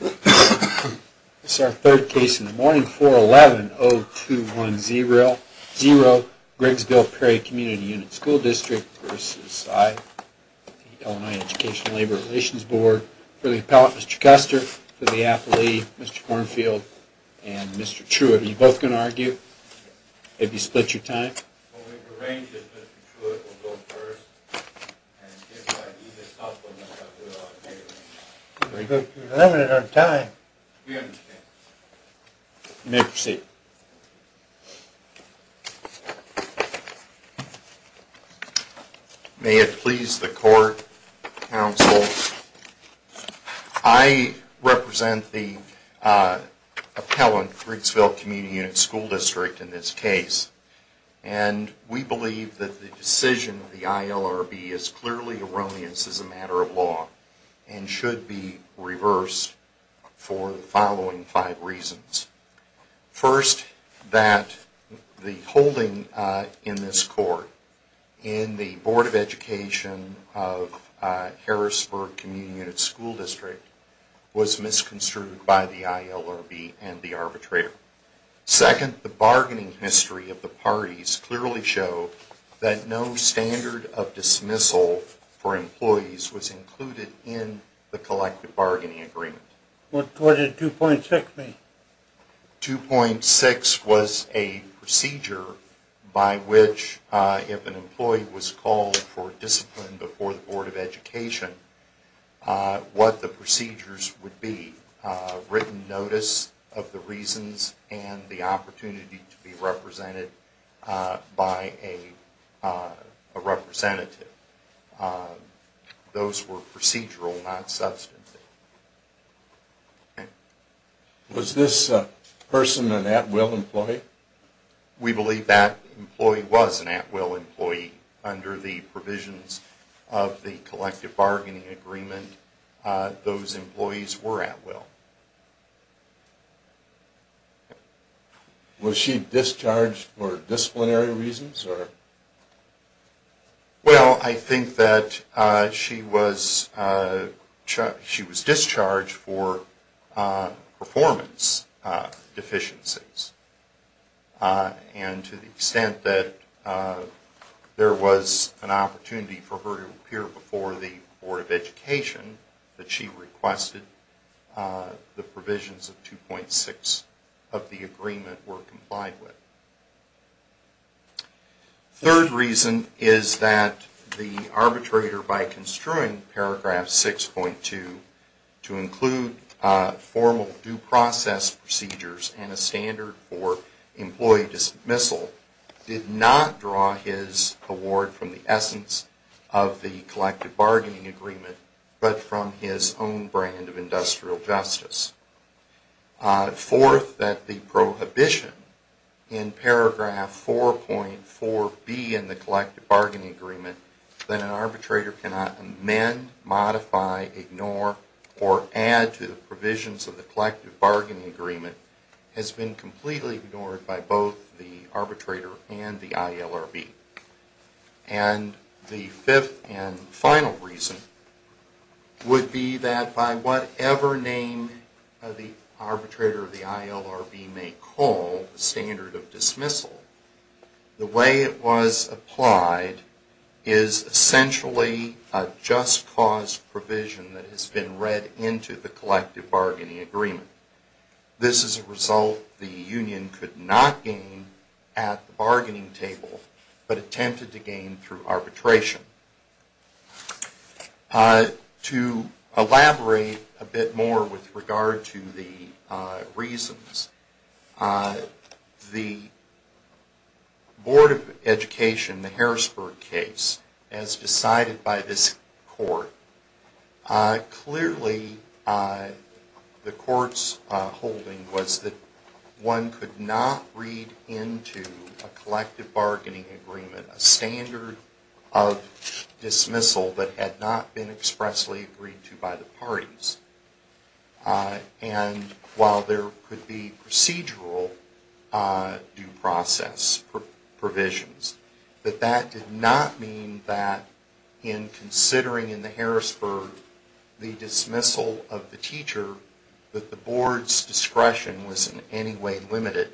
This is our third case in the morning, 4-11-0210, Griggsville-Perry Community Unit School District v. IELRB. For the appellate, Mr. Custer. For the appellate, Mr. Kornfield and Mr. Truitt. Are you both going to argue? Have you split your time? When we've arranged this, Mr. Truitt will go first and give an easy supplement of what we're arguing. We're going to limit our time. We understand. You may proceed. May it please the court, counsel, I represent the appellant, Griggsville Community Unit School District, in this case. And we believe that the decision of the IELRB is clearly erroneous as a matter of law and should be reversed for the following five reasons. First, that the holding in this court in the Board of Education of Harrisburg Community Unit School District was misconstrued by the IELRB and the arbitrator. Second, the bargaining history of the parties clearly show that no standard of dismissal for employees was included in the collective bargaining agreement. What did 2.6 mean? 2.6 was a procedure by which, if an employee was called for discipline before the Board of Education, what the procedures would be. A written notice of the reasons and the opportunity to be represented by a representative. Those were procedural, not substantive. Was this person an at-will employee? We believe that employee was an at-will employee under the provisions of the collective bargaining agreement. Those employees were at-will. Was she discharged for disciplinary reasons? Well, I think that she was discharged for performance deficiencies. And to the extent that there was an opportunity for her to appear before the Board of Education that she requested, the provisions of 2.6 of the agreement were complied with. Third reason is that the arbitrator, by construing paragraph 6.2 to include formal due process procedures and a standard for employee dismissal, did not draw his award from the essence of the collective bargaining agreement, but from his own brand of industrial justice. Fourth, that the prohibition in paragraph 4.4B in the collective bargaining agreement that an arbitrator cannot amend, modify, ignore, or add to the provisions of the collective bargaining agreement has been completely ignored by both the arbitrator and the ILRB. And the fifth and final reason would be that by whatever name the arbitrator or the ILRB may call the standard of dismissal, the way it was applied is essentially a just cause provision that has been read into the collective bargaining agreement. This is a result the union could not gain at the bargaining table, but attempted to gain through arbitration. To elaborate a bit more with regard to the reasons, the Board of Education, the Harrisburg case, as decided by this court, clearly the court's holding was that one could not read into a collective bargaining agreement a standard of dismissal that had not been expressly agreed to by the parties, and while there could be procedural due process provisions, but that did not mean that in considering in the Harrisburg the dismissal of the teacher that the Board's discretion was in any way limited.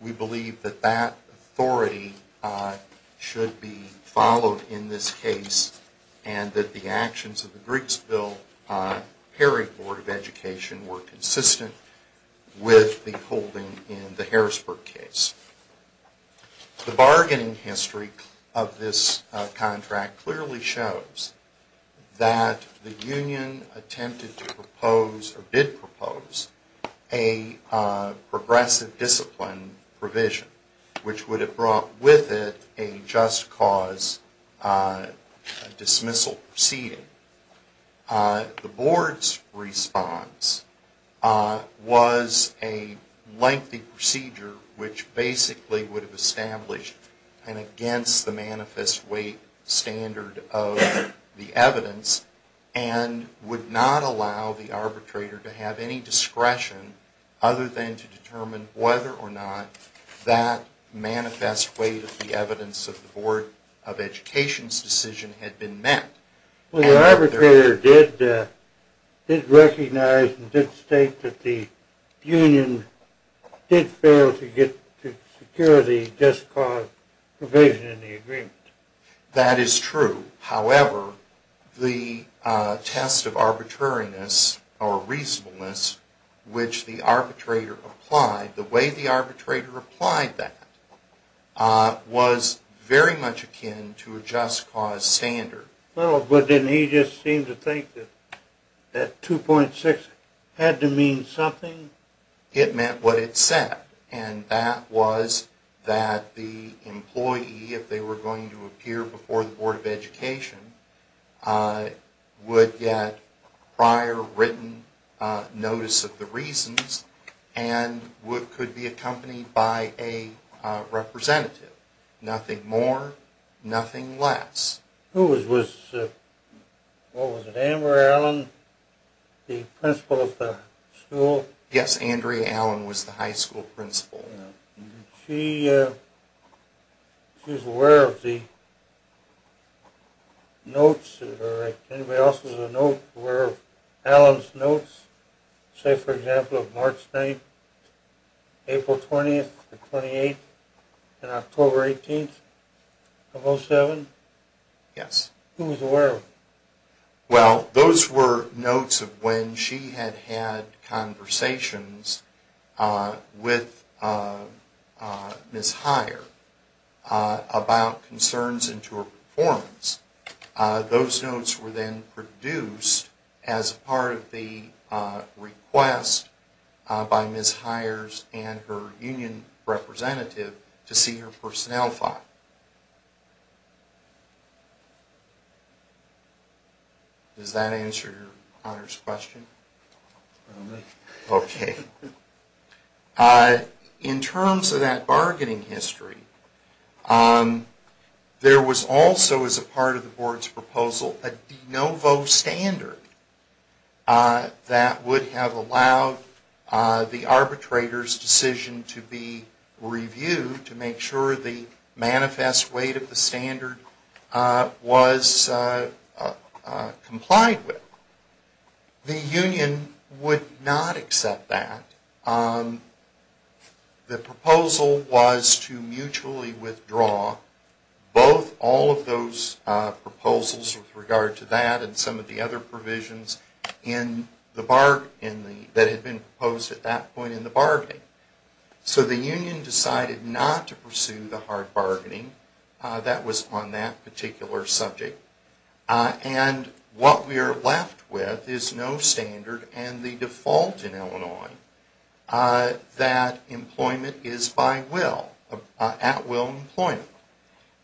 We believe that that authority should be followed in this case and that the actions of the Grigsville-Perry Board of Education were consistent with the holding in the Harrisburg case. The bargaining history of this contract clearly shows that the union attempted to propose, or did propose, a progressive discipline provision which would have brought with it a just cause dismissal proceeding. The Board's response was a lengthy procedure which basically would have established an against-the-manifest-weight standard of the evidence and would not allow the arbitrator to have any discretion other than to determine whether or not that manifest weight of the evidence of the Board of Education's decision had been met. Well, the arbitrator did recognize and did state that the union did fail to secure the just cause provision in the agreement. That is true. However, the test of arbitrariness or reasonableness which the arbitrator applied, the way the arbitrator applied that was very much akin to a just cause standard. Well, but didn't he just seem to think that 2.6 had to mean something? It meant what it said, and that was that the employee, if they were going to appear before the Board of Education, would get prior written notice of the reasons and could be accompanied by a representative. Nothing more, nothing less. Who was, what was it, Amber Allen, the principal of the school? Yes, Andrea Allen was the high school principal. She was aware of the notes, or anybody else was aware of Allen's notes? Say, for example, of March 9th, April 20th, the 28th, and October 18th of 07? Yes. Who was aware of them? Well, those were notes of when she had had conversations with Ms. Heyer about concerns into her performance. Those notes were then produced as part of the request by Ms. Heyer and her union representative to see her personnel file. Does that answer your honors question? Okay. In terms of that bargaining history, there was also, as a part of the Board's proposal, a de novo standard that would have allowed the arbitrator's decision to be reviewed to make sure the manifest weight of the standard was complied with. The union would not accept that. The proposal was to mutually withdraw both, all of those proposals with regard to that and some of the other provisions that had been proposed at that point in the bargaining. So the union decided not to pursue the hard bargaining that was on that particular subject. And what we are left with is no standard and the default in Illinois that employment is by will, at will employment.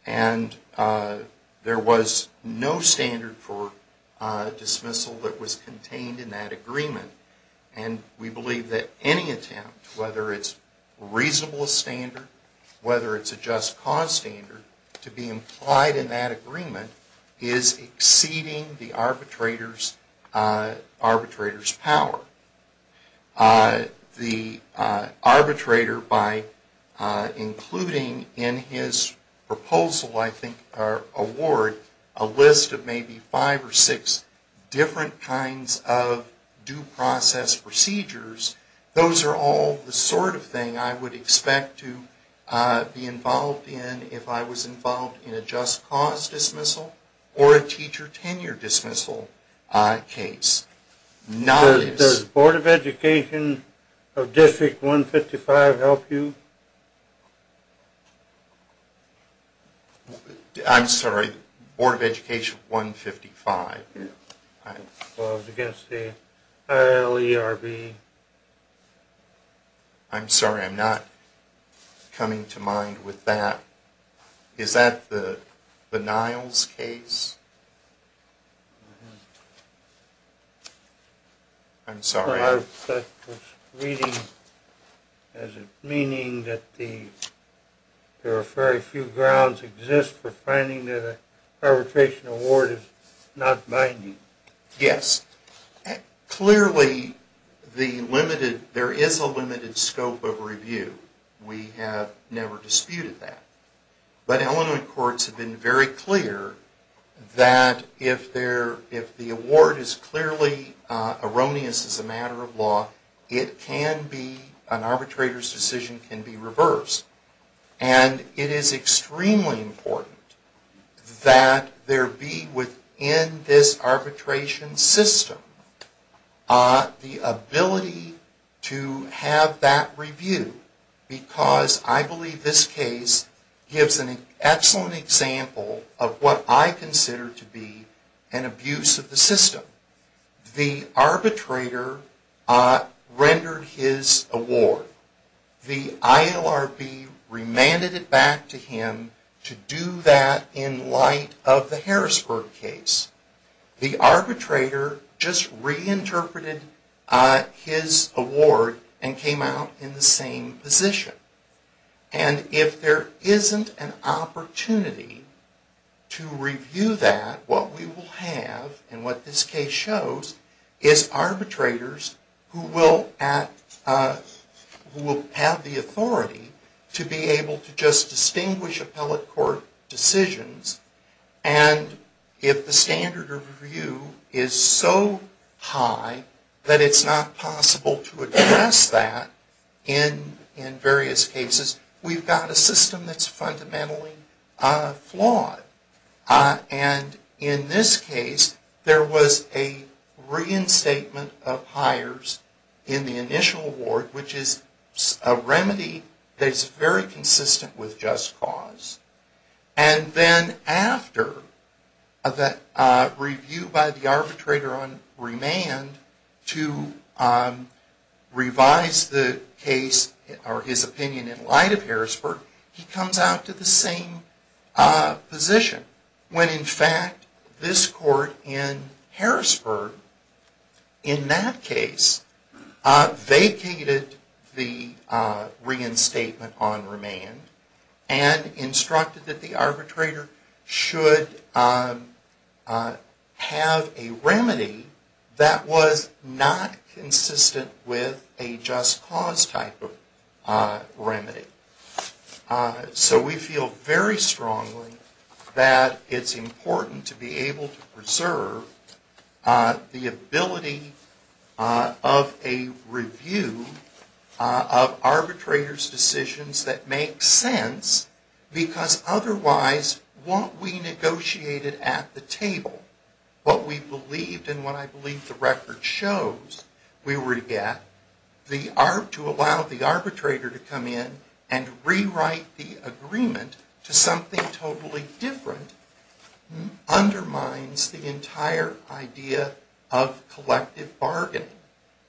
And there was no standard for dismissal that was contained in that agreement. And we believe that any attempt, whether it's a reasonable standard, whether it's a just cause standard, to be implied in that agreement is exceeding the arbitrator's power. The arbitrator, by including in his proposal, I think, or award, a list of maybe five or six different kinds of due process procedures, those are all the sort of thing I would expect to be involved in if I was involved in a just cause dismissal or a teacher tenure dismissal case. Does the Board of Education of District 155 help you? I'm sorry, Board of Education 155. Against the ILERB. I'm sorry, I'm not coming to mind with that. Is that the Niles case? I'm sorry. I was reading as it meaning that there are very few grounds exist for finding that an arbitration award is not binding. Yes. Clearly, there is a limited scope of review. We have never disputed that. But Illinois courts have been very clear that if the award is clearly erroneous as a matter of law, it can be, an arbitrator's decision can be reversed. And it is extremely important that there be within this arbitration system the ability to have that review. Because I believe this case gives an excellent example of what I consider to be an abuse of the system. The arbitrator rendered his award. The ILRB remanded it back to him to do that in light of the Harrisburg case. The arbitrator just reinterpreted his award and came out in the same position. And if there isn't an opportunity to review that, what we will have, and what this case shows, is arbitrators who will have the authority to be able to just distinguish appellate court decisions. And if the standard of review is so high that it's not possible to address that in various cases, we've got a system that's fundamentally flawed. And in this case, there was a reinstatement of hires in the initial award, which is a remedy that is very consistent with just cause. And then after that review by the arbitrator on remand to revise the case, or his opinion in light of Harrisburg, he comes out to the same position. When in fact, this court in Harrisburg, in that case, vacated the reinstatement on remand and instructed that the arbitrator should have a remedy that was not consistent with a just cause type of remedy. So we feel very strongly that it's important to be able to preserve the ability of a review of arbitrators' decisions that make sense, because otherwise, what we negotiated at the table, what we believed and what I believe the record shows we were to get, to allow the arbitrator to come in and rewrite the agreement to something totally different, undermines the entire idea of collective bargaining.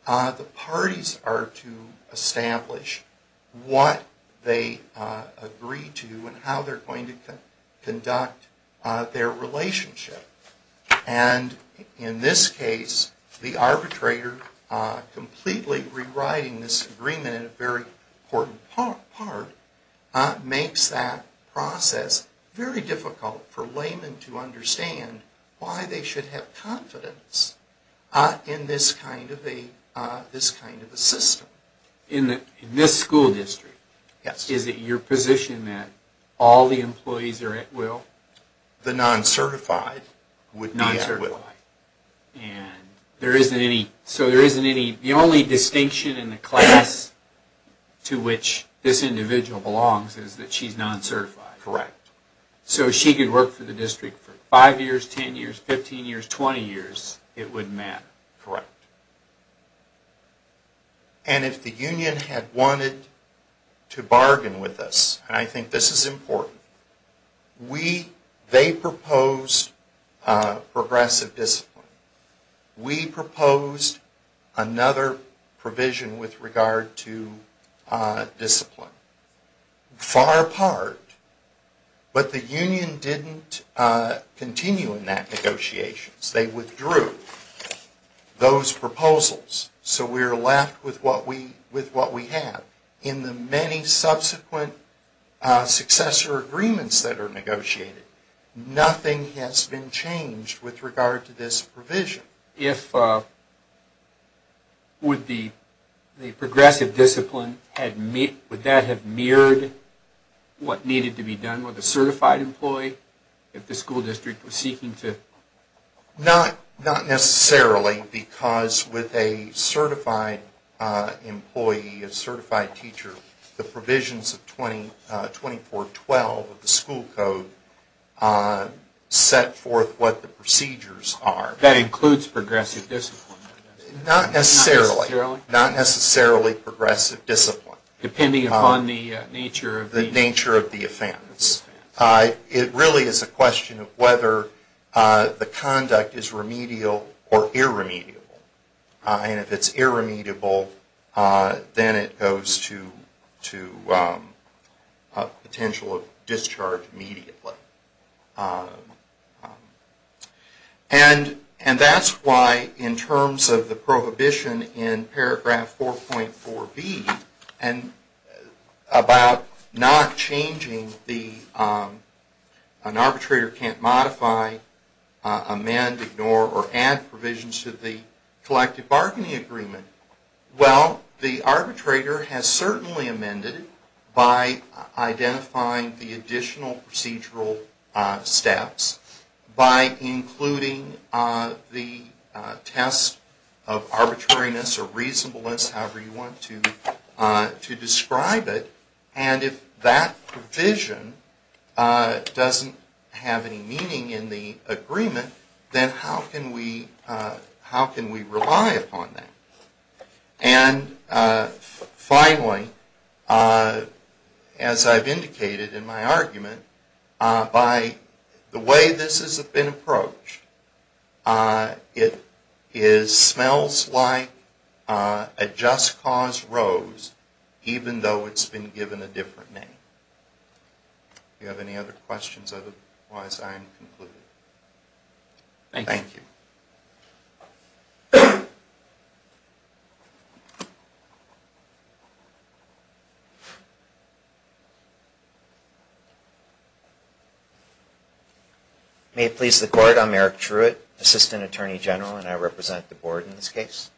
The parties are to establish what they agree to and how they're going to conduct their relationship. And in this case, the arbitrator completely rewriting this agreement in a very important part makes that process very difficult for laymen to understand why they should have confidence in this kind of a system. In this school district, is it your position that all the employees are at will? The non-certified would be at will. Non-certified. So the only distinction in the class to which this individual belongs is that she's non-certified. Correct. So she could work for the district for 5 years, 10 years, 15 years, 20 years. It wouldn't matter. Correct. And if the union had wanted to bargain with us, and I think this is important, they proposed progressive discipline. We proposed another provision with regard to discipline. Far apart, but the union didn't continue in that negotiations. They withdrew those proposals, so we're left with what we have. In the many subsequent successor agreements that are negotiated, nothing has been changed with regard to this provision. Would the progressive discipline, would that have mirrored what needed to be done with a certified employee if the school district was seeking to? Not necessarily, because with a certified employee, a certified teacher, the provisions of 2412 of the school code set forth what the procedures are. That includes progressive discipline. Not necessarily. Not necessarily progressive discipline. Depending upon the nature of the offense. It really is a question of whether the conduct is remedial or irremediable. And if it's irremediable, then it goes to a potential of discharge immediately. And that's why, in terms of the prohibition in paragraph 4.4b, about not changing the, an arbitrator can't modify, amend, ignore, or add provisions to the collective bargaining agreement. Well, the arbitrator has certainly amended by identifying the additional procedural steps by including the test of arbitrariness or reasonableness, however you want to describe it. And if that provision doesn't have any meaning in the agreement, then how can we rely upon that? And finally, as I've indicated in my argument, by the way this has been approached, it smells like a just cause rose, even though it's been given a different name. Do you have any other questions? Otherwise, I am concluded. Thank you. May it please the Court, I'm Eric Truitt, Assistant Attorney General, and I represent the Board in this case.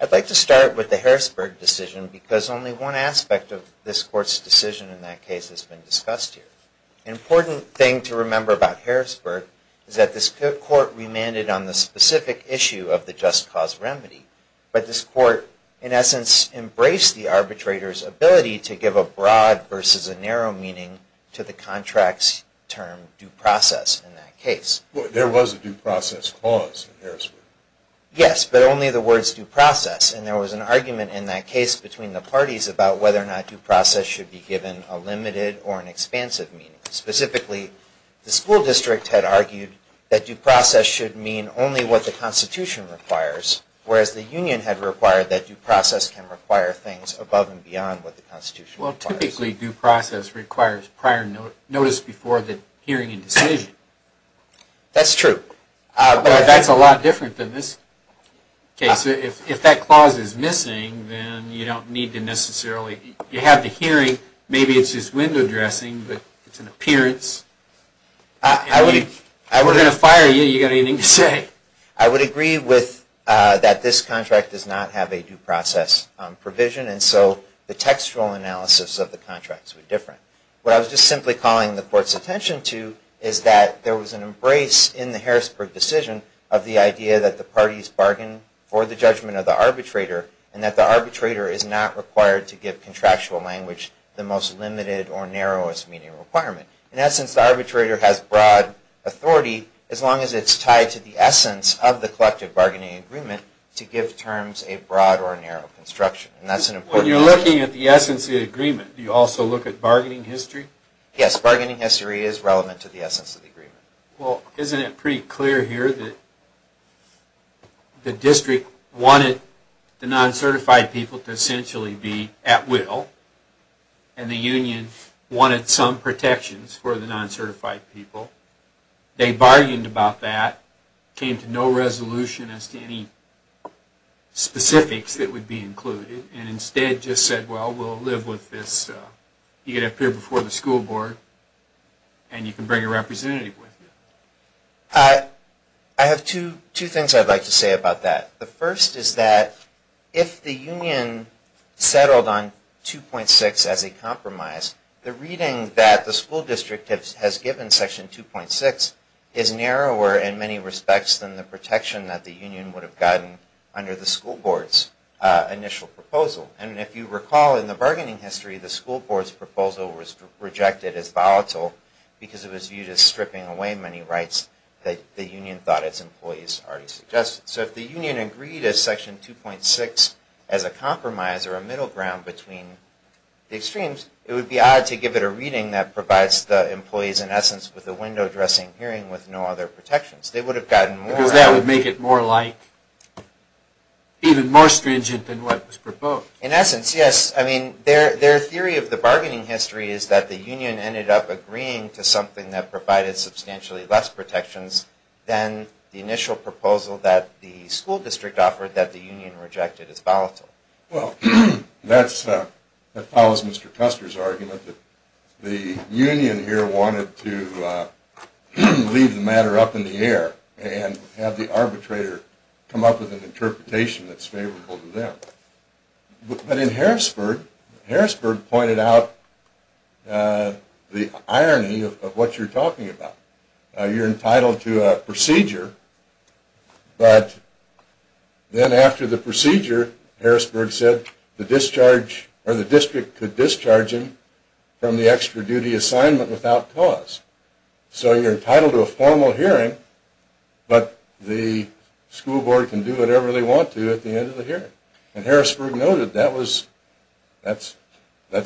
I'd like to start with the Harrisburg decision, because only one aspect of this Court's decision in that case has been discussed here. The important thing to remember about Harrisburg is that this Court remanded on the specific issue of the just cause remedy, but this Court in essence embraced the arbitrator's ability to give a broad versus a narrow meaning to the contract's term due process in that case. There was a due process clause in Harrisburg. Yes, but only the words due process, and there was an argument in that case between the parties about whether or not due process should be given a limited or an expansive meaning. Specifically, the school district had argued that due process should mean only what the Constitution requires, whereas the union had required that due process can require things above and beyond what the Constitution requires. Well, typically due process requires prior notice before the hearing and decision. That's true. But that's a lot different than this case. If that clause is missing, then you don't need to necessarily, you have the hearing, maybe it's just window dressing, but it's an appearance. If we're going to fire you, do you have anything to say? I would agree that this contract does not have a due process provision, and so the textual analysis of the contracts were different. What I was just simply calling the Court's attention to is that there was an embrace in the Harrisburg decision of the idea that the parties bargain for the contractual language, the most limited or narrowest meaning requirement. In essence, the arbitrator has broad authority as long as it's tied to the essence of the collective bargaining agreement to give terms a broad or narrow construction. When you're looking at the essence of the agreement, do you also look at bargaining history? Yes, bargaining history is relevant to the essence of the agreement. Well, isn't it pretty clear here that the district wanted the non-certified people to essentially be at will, and the union wanted some protections for the non-certified people. They bargained about that, came to no resolution as to any specifics that would be included, and instead just said, well, we'll live with this. You're going to appear before the school board, and you can bring a representative with you. I have two things I'd like to say about that. The first is that if the union settled on 2.6 as a compromise, the reading that the school district has given section 2.6 is narrower in many respects than the protection that the union would have gotten under the school board's initial proposal. And if you recall in the bargaining history, the school board's proposal was rejected as volatile because it was viewed as stripping away many rights that the union thought its employees already suggested. So if the union agreed as section 2.6 as a compromise or a middle ground between the extremes, it would be odd to give it a reading that provides the employees in essence with a window dressing hearing with no other protections. They would have gotten more. Because that would make it more like, even more stringent than what was proposed. In essence, yes. I mean, their theory of the bargaining history is that the union ended up agreeing to something that provided substantially less protections than the school district offered that the union rejected as volatile. Well, that follows Mr. Custer's argument that the union here wanted to leave the matter up in the air and have the arbitrator come up with an interpretation that's favorable to them. But in Harrisburg, Harrisburg pointed out the irony of what you're talking about. You're entitled to a procedure, but then after the procedure, Harrisburg said the district could discharge him from the extra duty assignment without cause. So you're entitled to a formal hearing, but the school board can do whatever they want to at the end of the hearing. And Harrisburg noted that's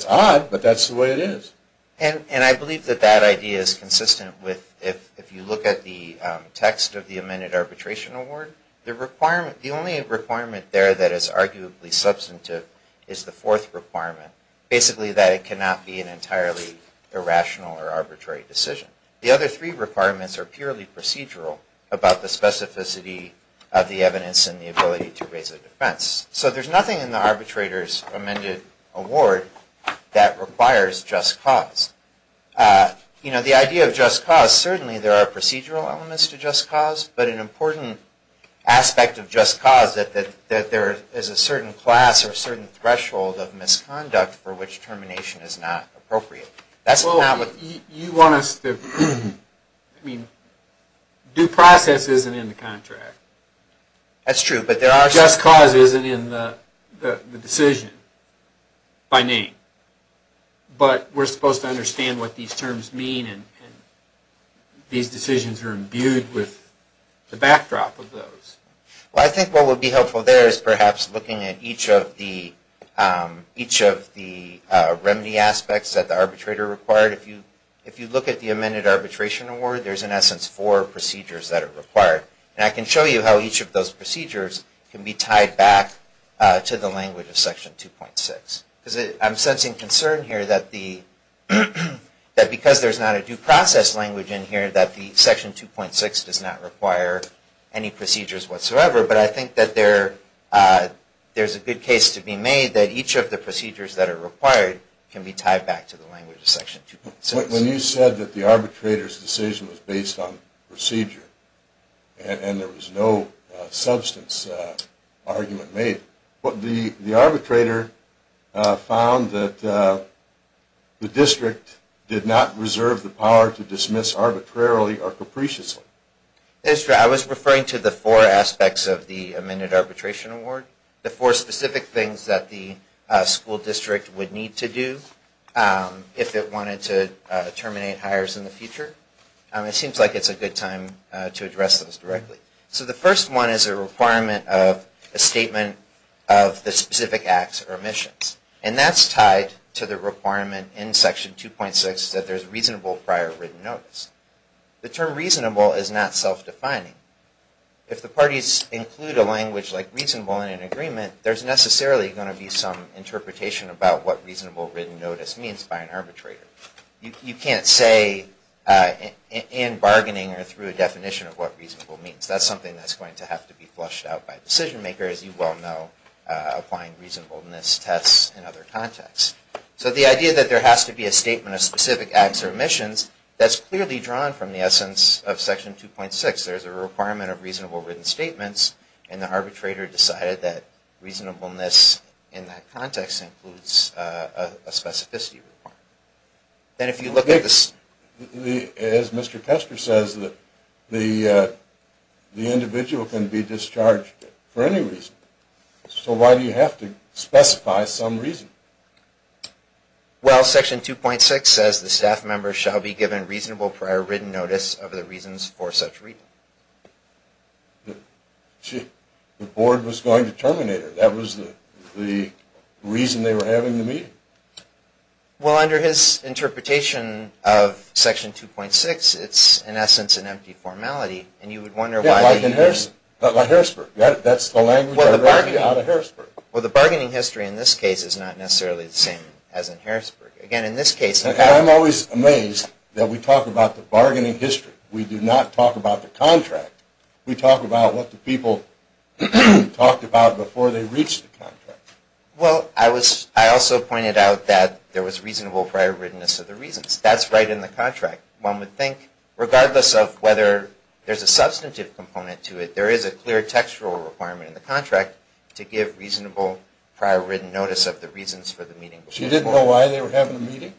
odd, but that's the way it is. And I believe that that idea is consistent with, if you look at the text of the amended arbitration award, the only requirement there that is arguably substantive is the fourth requirement, basically that it cannot be an entirely irrational or arbitrary decision. The other three requirements are purely procedural about the specificity of the evidence and the ability to raise a defense. So there's nothing in the arbitrator's amended award that requires just cause. You know, the idea of just cause, certainly there are procedural elements to just cause, but an important aspect of just cause is that there is a certain class or a certain threshold of misconduct for which termination is not appropriate. Well, you want us to, I mean, due process isn't in the contract. That's true, but there are... Just cause isn't in the decision by name. But we're supposed to understand what these terms mean and these decisions are imbued with the backdrop of those. Well, I think what would be helpful there is perhaps looking at each of the remedy aspects that the arbitrator required. If you look at the amended arbitration award, there's in essence four procedures that are required. And I can show you how each of those procedures can be tied back to the language of Section 2.6. Because I'm sensing concern here that because there's not a due process language in here that the Section 2.6 does not require any procedures whatsoever, but I think that there's a good case to be made that each of the procedures that are required can be tied back to the language of Section 2.6. When you said that the arbitrator's decision was based on procedure and there was no substance argument made, the arbitrator found that the district did not reserve the power to dismiss arbitrarily or capriciously. That's true. I was referring to the four aspects of the amended arbitration award, the four in the future. It seems like it's a good time to address those directly. So the first one is a requirement of a statement of the specific acts or omissions. And that's tied to the requirement in Section 2.6 that there's reasonable prior written notice. The term reasonable is not self-defining. If the parties include a language like reasonable in an agreement, there's necessarily going to be some interpretation about what reasonable written notice means by an arbitrator. You can't say in bargaining or through a definition of what reasonable means. That's something that's going to have to be flushed out by a decision maker, as you well know, applying reasonableness tests in other contexts. So the idea that there has to be a statement of specific acts or omissions, that's clearly drawn from the essence of Section 2.6. There's a requirement of reasonable written statements, and the arbitrator decided that reasonableness in that context includes a specificity requirement. As Mr. Kester says, the individual can be discharged for any reason. So why do you have to specify some reason? Well, Section 2.6 says the staff member shall be given reasonable prior written notice of the reasons for such reading. The board was going to terminate her. That was the reason they were having the meeting. Well, under his interpretation of Section 2.6, it's in essence an empty formality, and you would wonder why. Yeah, like in Harrisburg. That's the language directly out of Harrisburg. Well, the bargaining history in this case is not necessarily the same as in Harrisburg. Again, in this case. I'm always amazed that we talk about the bargaining history. We do not talk about the contract. We talk about what the people talked about before they reached the contract. Well, I also pointed out that there was reasonable prior written notice of the reasons. That's right in the contract. One would think, regardless of whether there's a substantive component to it, there is a clear textual requirement in the contract to give reasonable prior written notice of the reasons for the meeting. She didn't know why they were having the meeting?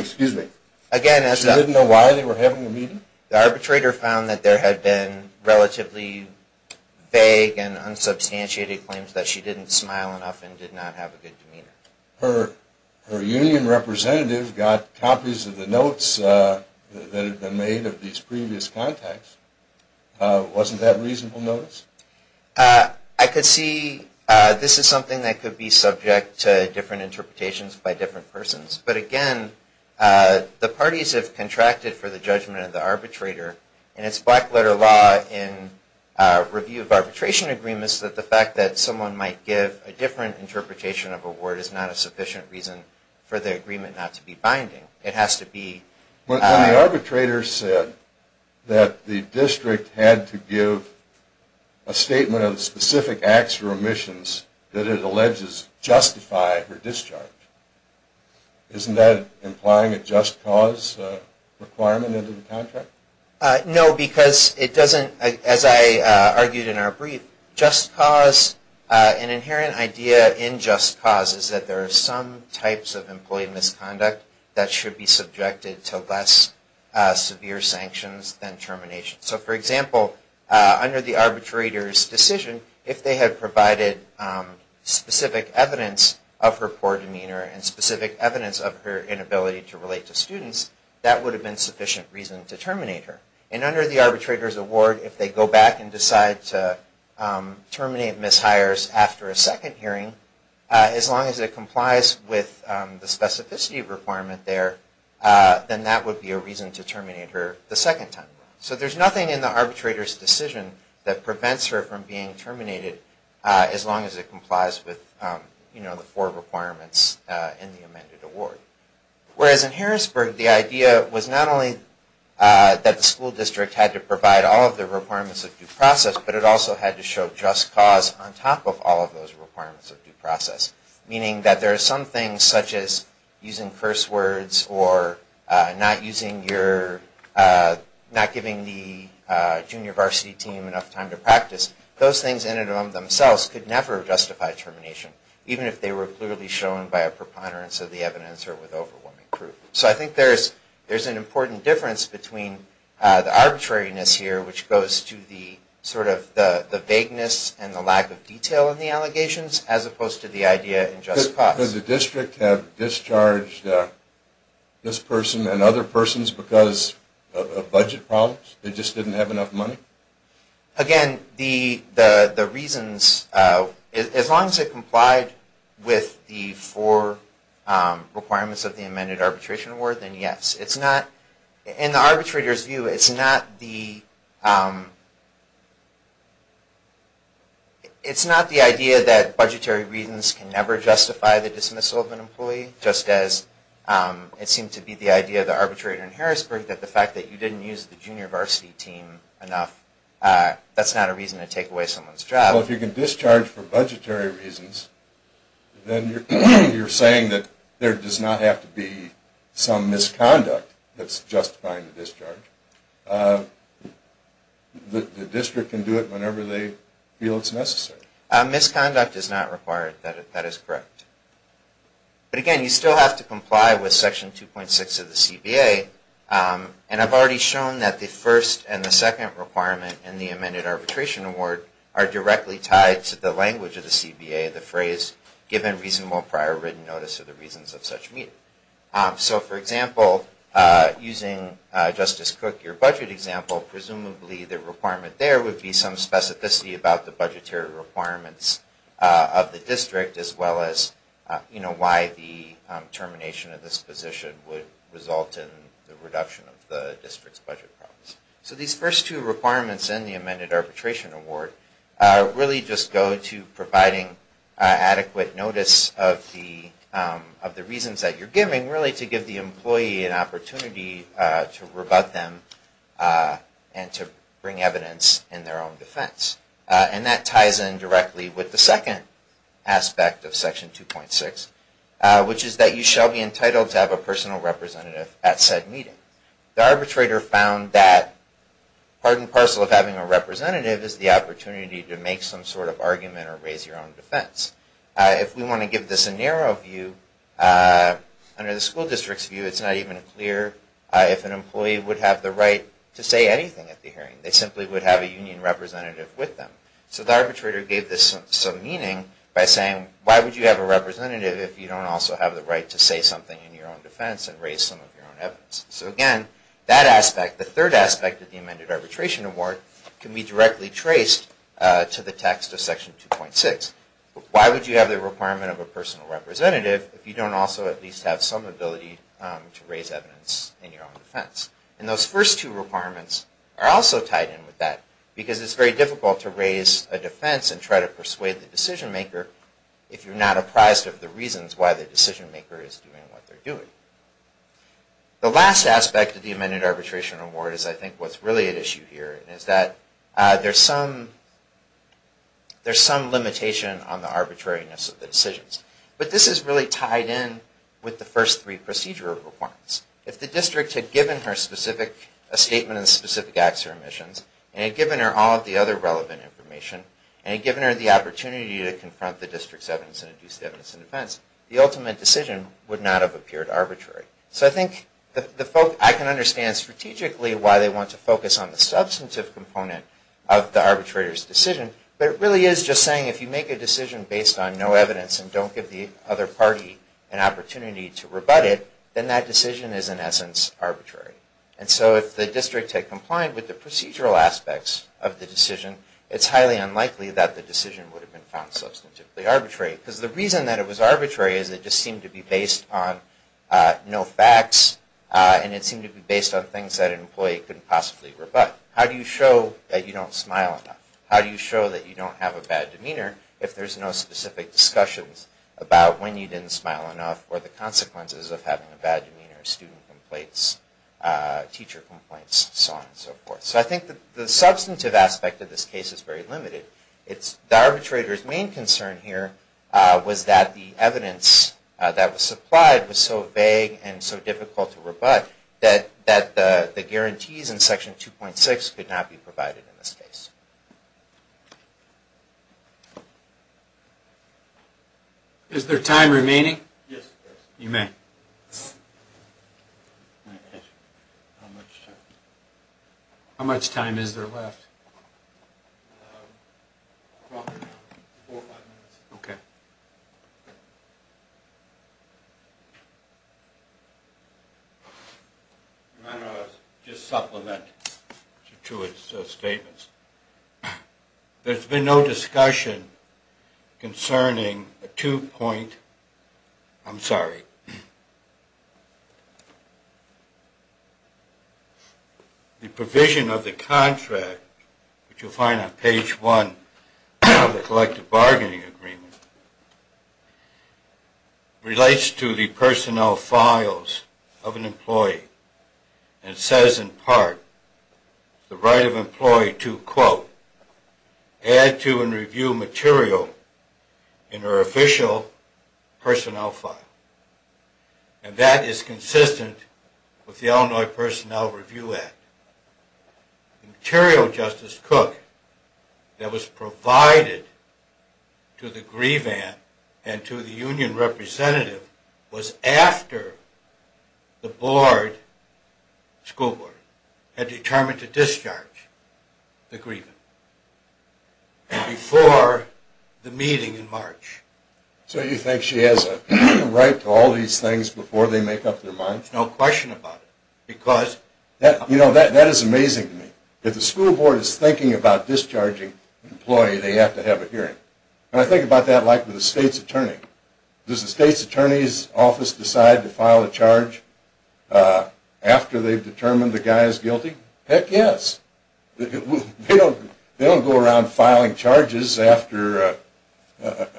Excuse me. She didn't know why they were having the meeting? The arbitrator found that there had been relatively vague and unsubstantiated claims that she didn't smile enough and did not have a good demeanor. Her union representative got copies of the notes that had been made of these previous contacts. Wasn't that reasonable notice? I could see this is something that could be subject to different interpretations by different persons. But again, the parties have contracted for the judgment of the arbitrator. And it's black letter law in review of arbitration agreements that the fact that someone might give a different interpretation of a word is not a sufficient reason for the agreement not to be binding. When the arbitrator said that the district had to give a statement of specific acts or omissions that it alleges justify her discharge, isn't that implying a just cause requirement into the contract? No, because it doesn't, as I argued in our brief, an inherent idea in just cause is that there are some types of employee misconduct that should be subjected to less severe sanctions than termination. So, for example, under the arbitrator's decision, if they had provided specific evidence of her poor demeanor and specific evidence of her inability to relate to students, that would have been sufficient reason to terminate her. And under the arbitrator's award, if they go back and decide to terminate Ms. Hires after a second hearing, as long as it complies with the specificity requirement there, then that would be a reason to terminate her the second time. So there's nothing in the arbitrator's decision that prevents her from being terminated as long as it complies with the four requirements in the amended award. Whereas in Harrisburg, the idea was not only that the school district had to provide all of the requirements of due process, but it also had to show just cause on top of all of those requirements of due process. Meaning that there are some things such as using curse words or not giving the junior varsity team enough time to practice. Those things in and of themselves could never justify termination, even if they were clearly shown by a preponderance of the evidence or with overwhelming proof. So I think there's an important difference between the arbitrariness here, which goes to the vagueness and the lack of detail in the allegations, as opposed to the idea in just cause. Could the district have discharged this person and other persons because of budget problems? They just didn't have enough money? Again, the reasons, as long as it complied with the four requirements of the amended arbitration award, then yes. In the arbitrator's view, it's not the idea that budgetary reasons can never justify the dismissal of an employee, just as it seemed to be the idea of the arbitrator in Harrisburg that the fact that you didn't use the junior varsity team enough, that's not a reason to take away someone's job. Well, if you can discharge for budgetary reasons, then you're saying that there does not have to be some misconduct that's justifying the discharge. The district can do it whenever they feel it's necessary. Misconduct is not required. That is correct. But again, you still have to comply with Section 2.6 of the CBA, and I've already shown that the first and the second requirement in the amended arbitration award are directly tied to the language of the CBA, the phrase, given reasonable prior written notice of the reasons of such meeting. So, for example, using Justice Cook, your budget example, presumably the requirement there would be some specificity about the budgetary requirements of the district, as well as, you know, why the termination of this position would result in the reduction of the district's budget problems. So these first two requirements in the amended arbitration award really just go to providing adequate notice of the reasons that you're giving, really, to give the employee an opportunity to rebut them and to bring evidence in their own defense. And that ties in directly with the second aspect of Section 2.6, which is that you shall be entitled to have a personal representative at said meeting. The arbitrator found that part and parcel of having a representative is the right to make an argument or raise your own defense. If we want to give this a narrow view, under the school district's view it's not even clear if an employee would have the right to say anything at the hearing. They simply would have a union representative with them. So the arbitrator gave this some meaning by saying, why would you have a representative if you don't also have the right to say something in your own defense and raise some of your own evidence? So, again, that aspect, the third aspect of the amended arbitration award can be directly traced to the text of Section 2.6. Why would you have the requirement of a personal representative if you don't also at least have some ability to raise evidence in your own defense? And those first two requirements are also tied in with that, because it's very difficult to raise a defense and try to persuade the decision maker if you're not apprised of the reasons why the decision maker is doing what they're doing. The last aspect of the amended arbitration award is, I think, what's really at issue here is that there's some limitation on the arbitrariness of the decisions. But this is really tied in with the first three procedure requirements. If the district had given her a statement of the specific acts or omissions, and had given her all of the other relevant information, and had given her the opportunity to confront the district's evidence and induce the evidence in defense, the ultimate decision would not have appeared arbitrary. So I think I can understand strategically why they want to focus on the substantive component of the arbitrator's decision. But it really is just saying if you make a decision based on no evidence and don't give the other party an opportunity to rebut it, then that decision is in essence arbitrary. And so if the district had complied with the procedural aspects of the decision, it's highly unlikely that the decision would have been found substantively arbitrary. Because the reason that it was arbitrary is it just seemed to be based on no facts, and it seemed to be based on things that an employee couldn't possibly rebut. How do you show that you don't smile enough? How do you show that you don't have a bad demeanor if there's no specific discussions about when you didn't smile enough or the consequences of having a bad demeanor, student complaints, teacher complaints, so on and so forth. So I think the substantive aspect of this case is very limited. The arbitrator's main concern here was that the evidence that was supplied was so vague and so difficult to rebut that the guarantees in Section 2.6 could not be provided in this case. Is there time remaining? Yes. You may. How much time is there left? Four or five minutes. Okay. I'm going to just supplement to his statements. There's been no discussion concerning a two-point – I'm sorry. The provision of the contract, which you'll find on page one of the collective bargaining agreement, relates to the personnel files of an employee and says, in part, the right of employee to, quote, add to and review material in her official personnel file. And that is consistent with the Illinois Personnel Review Act. The material, Justice Cook, that was provided to the grievant and to the union school board, had determined to discharge the grievant before the meeting in March. So you think she has a right to all these things before they make up their minds? There's no question about it because – You know, that is amazing to me. If the school board is thinking about discharging an employee, they have to have a hearing. And I think about that like with a state's attorney. Does the state's attorney's office decide to file a charge after they've determined the guy is guilty? Heck, yes. They don't go around filing charges after – They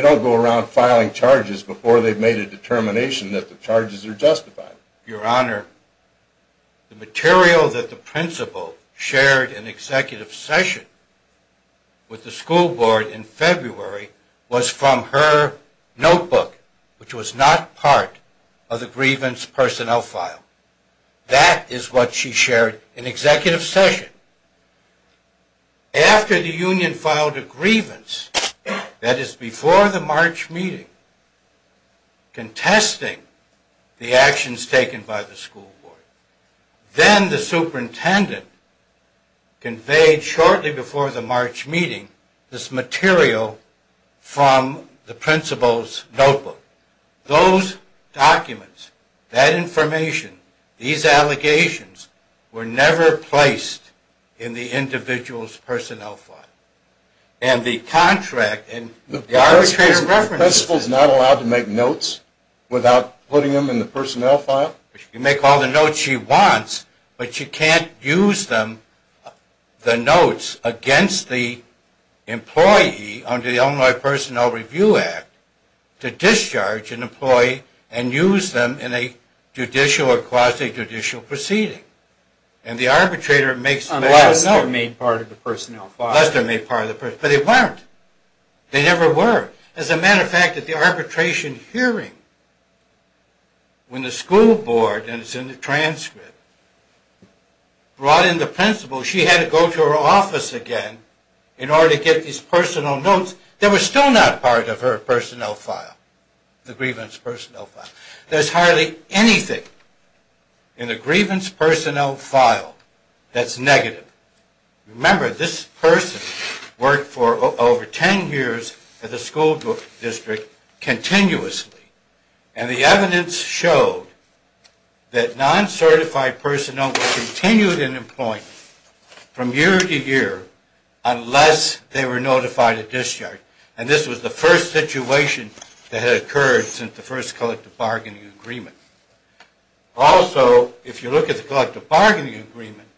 don't go around filing charges before they've made a determination that the charges are justified. Your Honor, the material that the principal shared in executive session with the school board in February was from her notebook, which was not part of the grievance personnel file. That is what she shared in executive session. After the union filed a grievance, that is before the March meeting, contesting the actions taken by the school board, then the superintendent conveyed shortly before the March meeting this material from the principal's notebook. Those documents, that information, these allegations were never placed in the individual's personnel file. And the contract – The principal is not allowed to make notes without putting them in the personnel file? No. You make all the notes she wants, but you can't use them, the notes, against the employee under the Illinois Personnel Review Act to discharge an employee and use them in a judicial or quasi-judicial proceeding. And the arbitrator makes – Unless they're made part of the personnel file. Unless they're made part of the – but they weren't. They never were. As a matter of fact, at the arbitration hearing, when the school board – and it's in the transcript – brought in the principal, she had to go to her office again in order to get these personal notes that were still not part of her personnel file, the grievance personnel file. There's hardly anything in the grievance personnel file that's negative. Remember, this person worked for over 10 years at the school district continuously. And the evidence showed that non-certified personnel were continued in employment from year to year unless they were notified of discharge. And this was the first situation that had occurred since the first collective bargaining agreement. Also, if you look at the collective bargaining agreement,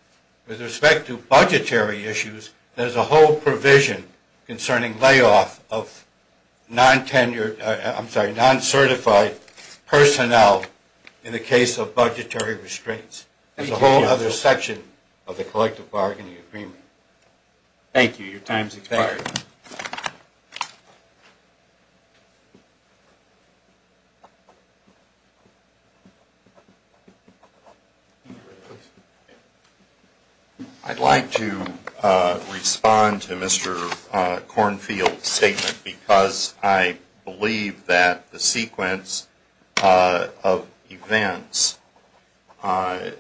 with respect to budgetary issues, there's a whole provision concerning layoff of non-tenured – I'm sorry, non-certified personnel in the case of budgetary restraints. There's a whole other section of the collective bargaining agreement. Thank you. Your time has expired. I'd like to respond to Mr. Cornfield's statement because I believe that the sequence of events are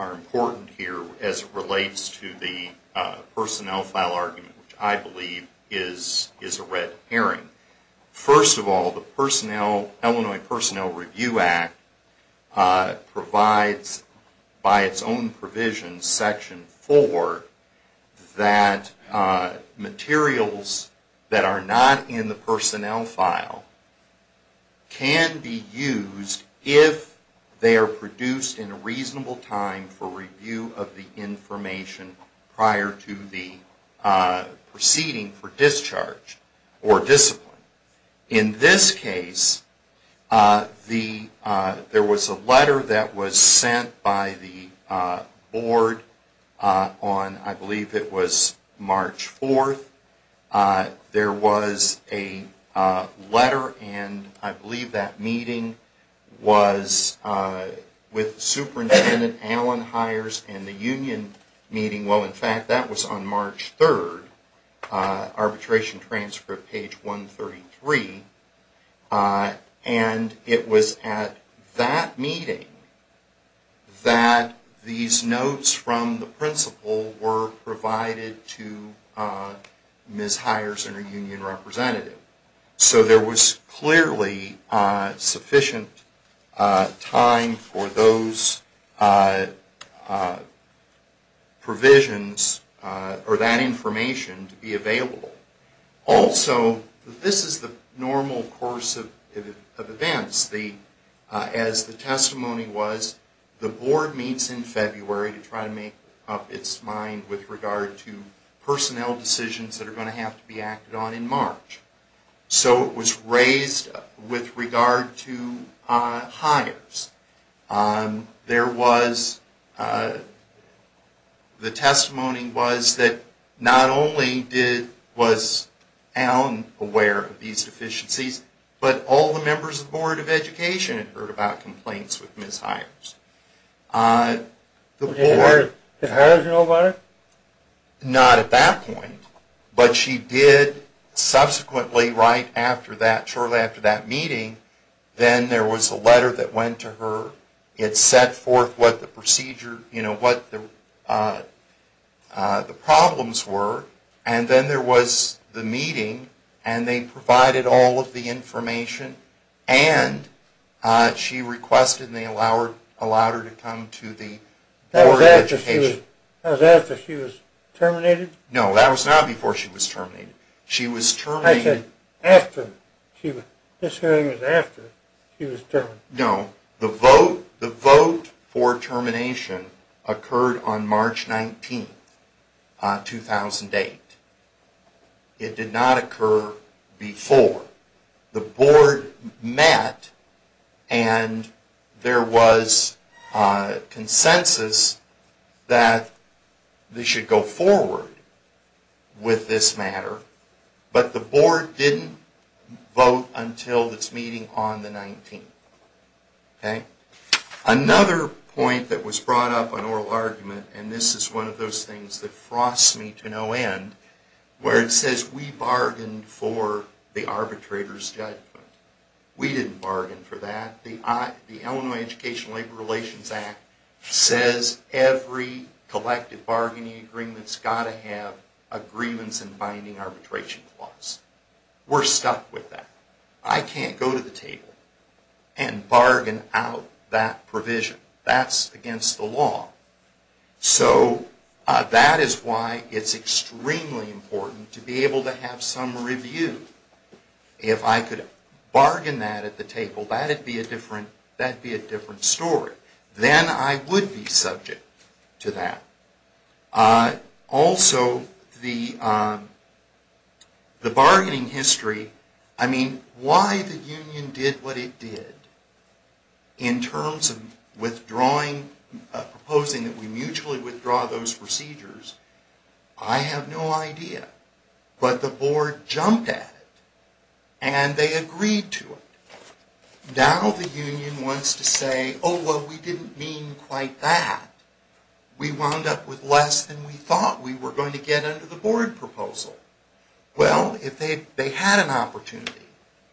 important here as it relates to the personnel file argument, which I believe is a red herring. First of all, the Illinois Personnel Review Act provides, by its own provisions, Section 4, that materials that are not in the personnel file can be used if they are produced in a reasonable time for review of the information prior to the proceeding for discharge or discipline. In this case, there was a letter that was sent by the Board on, I believe it was March 4th. There was a letter, and I believe that meeting was with Superintendent Allen Hires and the union meeting – well, in fact, that was on March 3rd, Arbitration Transcript, page 133. And it was at that meeting that these notes from the principal were provided to Ms. Hires and her union representative. So there was clearly sufficient time for those provisions or that information to be available. Also, this is the normal course of events. As the testimony was, the Board meets in February to try to make up its mind with regard to personnel decisions that are going to have to be acted on in March. So it was raised with regard to Hires. There was – the testimony was that not only was Allen aware of these deficiencies, but all the members of the Board of Education had heard about complaints with Ms. Hires. Did Hires know about it? Not at that point, but she did subsequently right after that, shortly after that meeting. Then there was a letter that went to her. It set forth what the procedure, you know, what the problems were. And then there was the meeting, and they provided all of the information. And she requested and they allowed her to come to the Board of Education. That was after she was terminated? No, that was not before she was terminated. She was terminated after. This hearing was after she was terminated. No, the vote for termination occurred on March 19, 2008. It did not occur before. The Board met, and there was consensus that they should go forward with this matter. But the Board didn't vote until this meeting on the 19th. Another point that was brought up in oral argument, and this is one of those things that frosts me to no end, where it says we bargained for the arbitrator's judgment. We didn't bargain for that. The Illinois Educational Labor Relations Act says every collective bargaining agreement has got to have agreements and binding arbitration clause. We're stuck with that. I can't go to the table and bargain out that provision. That's against the law. So that is why it's extremely important to be able to have some review. If I could bargain that at the table, that would be a different story. Then I would be subject to that. Also, the bargaining history, I mean, why the union did what it did in terms of proposing that we mutually withdraw those procedures, I have no idea. But the Board jumped at it, and they agreed to it. Now the union wants to say, oh, well, we didn't mean quite that. We wound up with less than we thought we were going to get under the Board proposal. Well, if they had an opportunity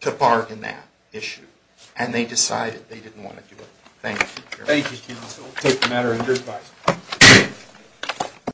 to bargain that issue, and they decided they didn't want to do it. Thank you. Thank you, counsel. We'll take the matter under advice.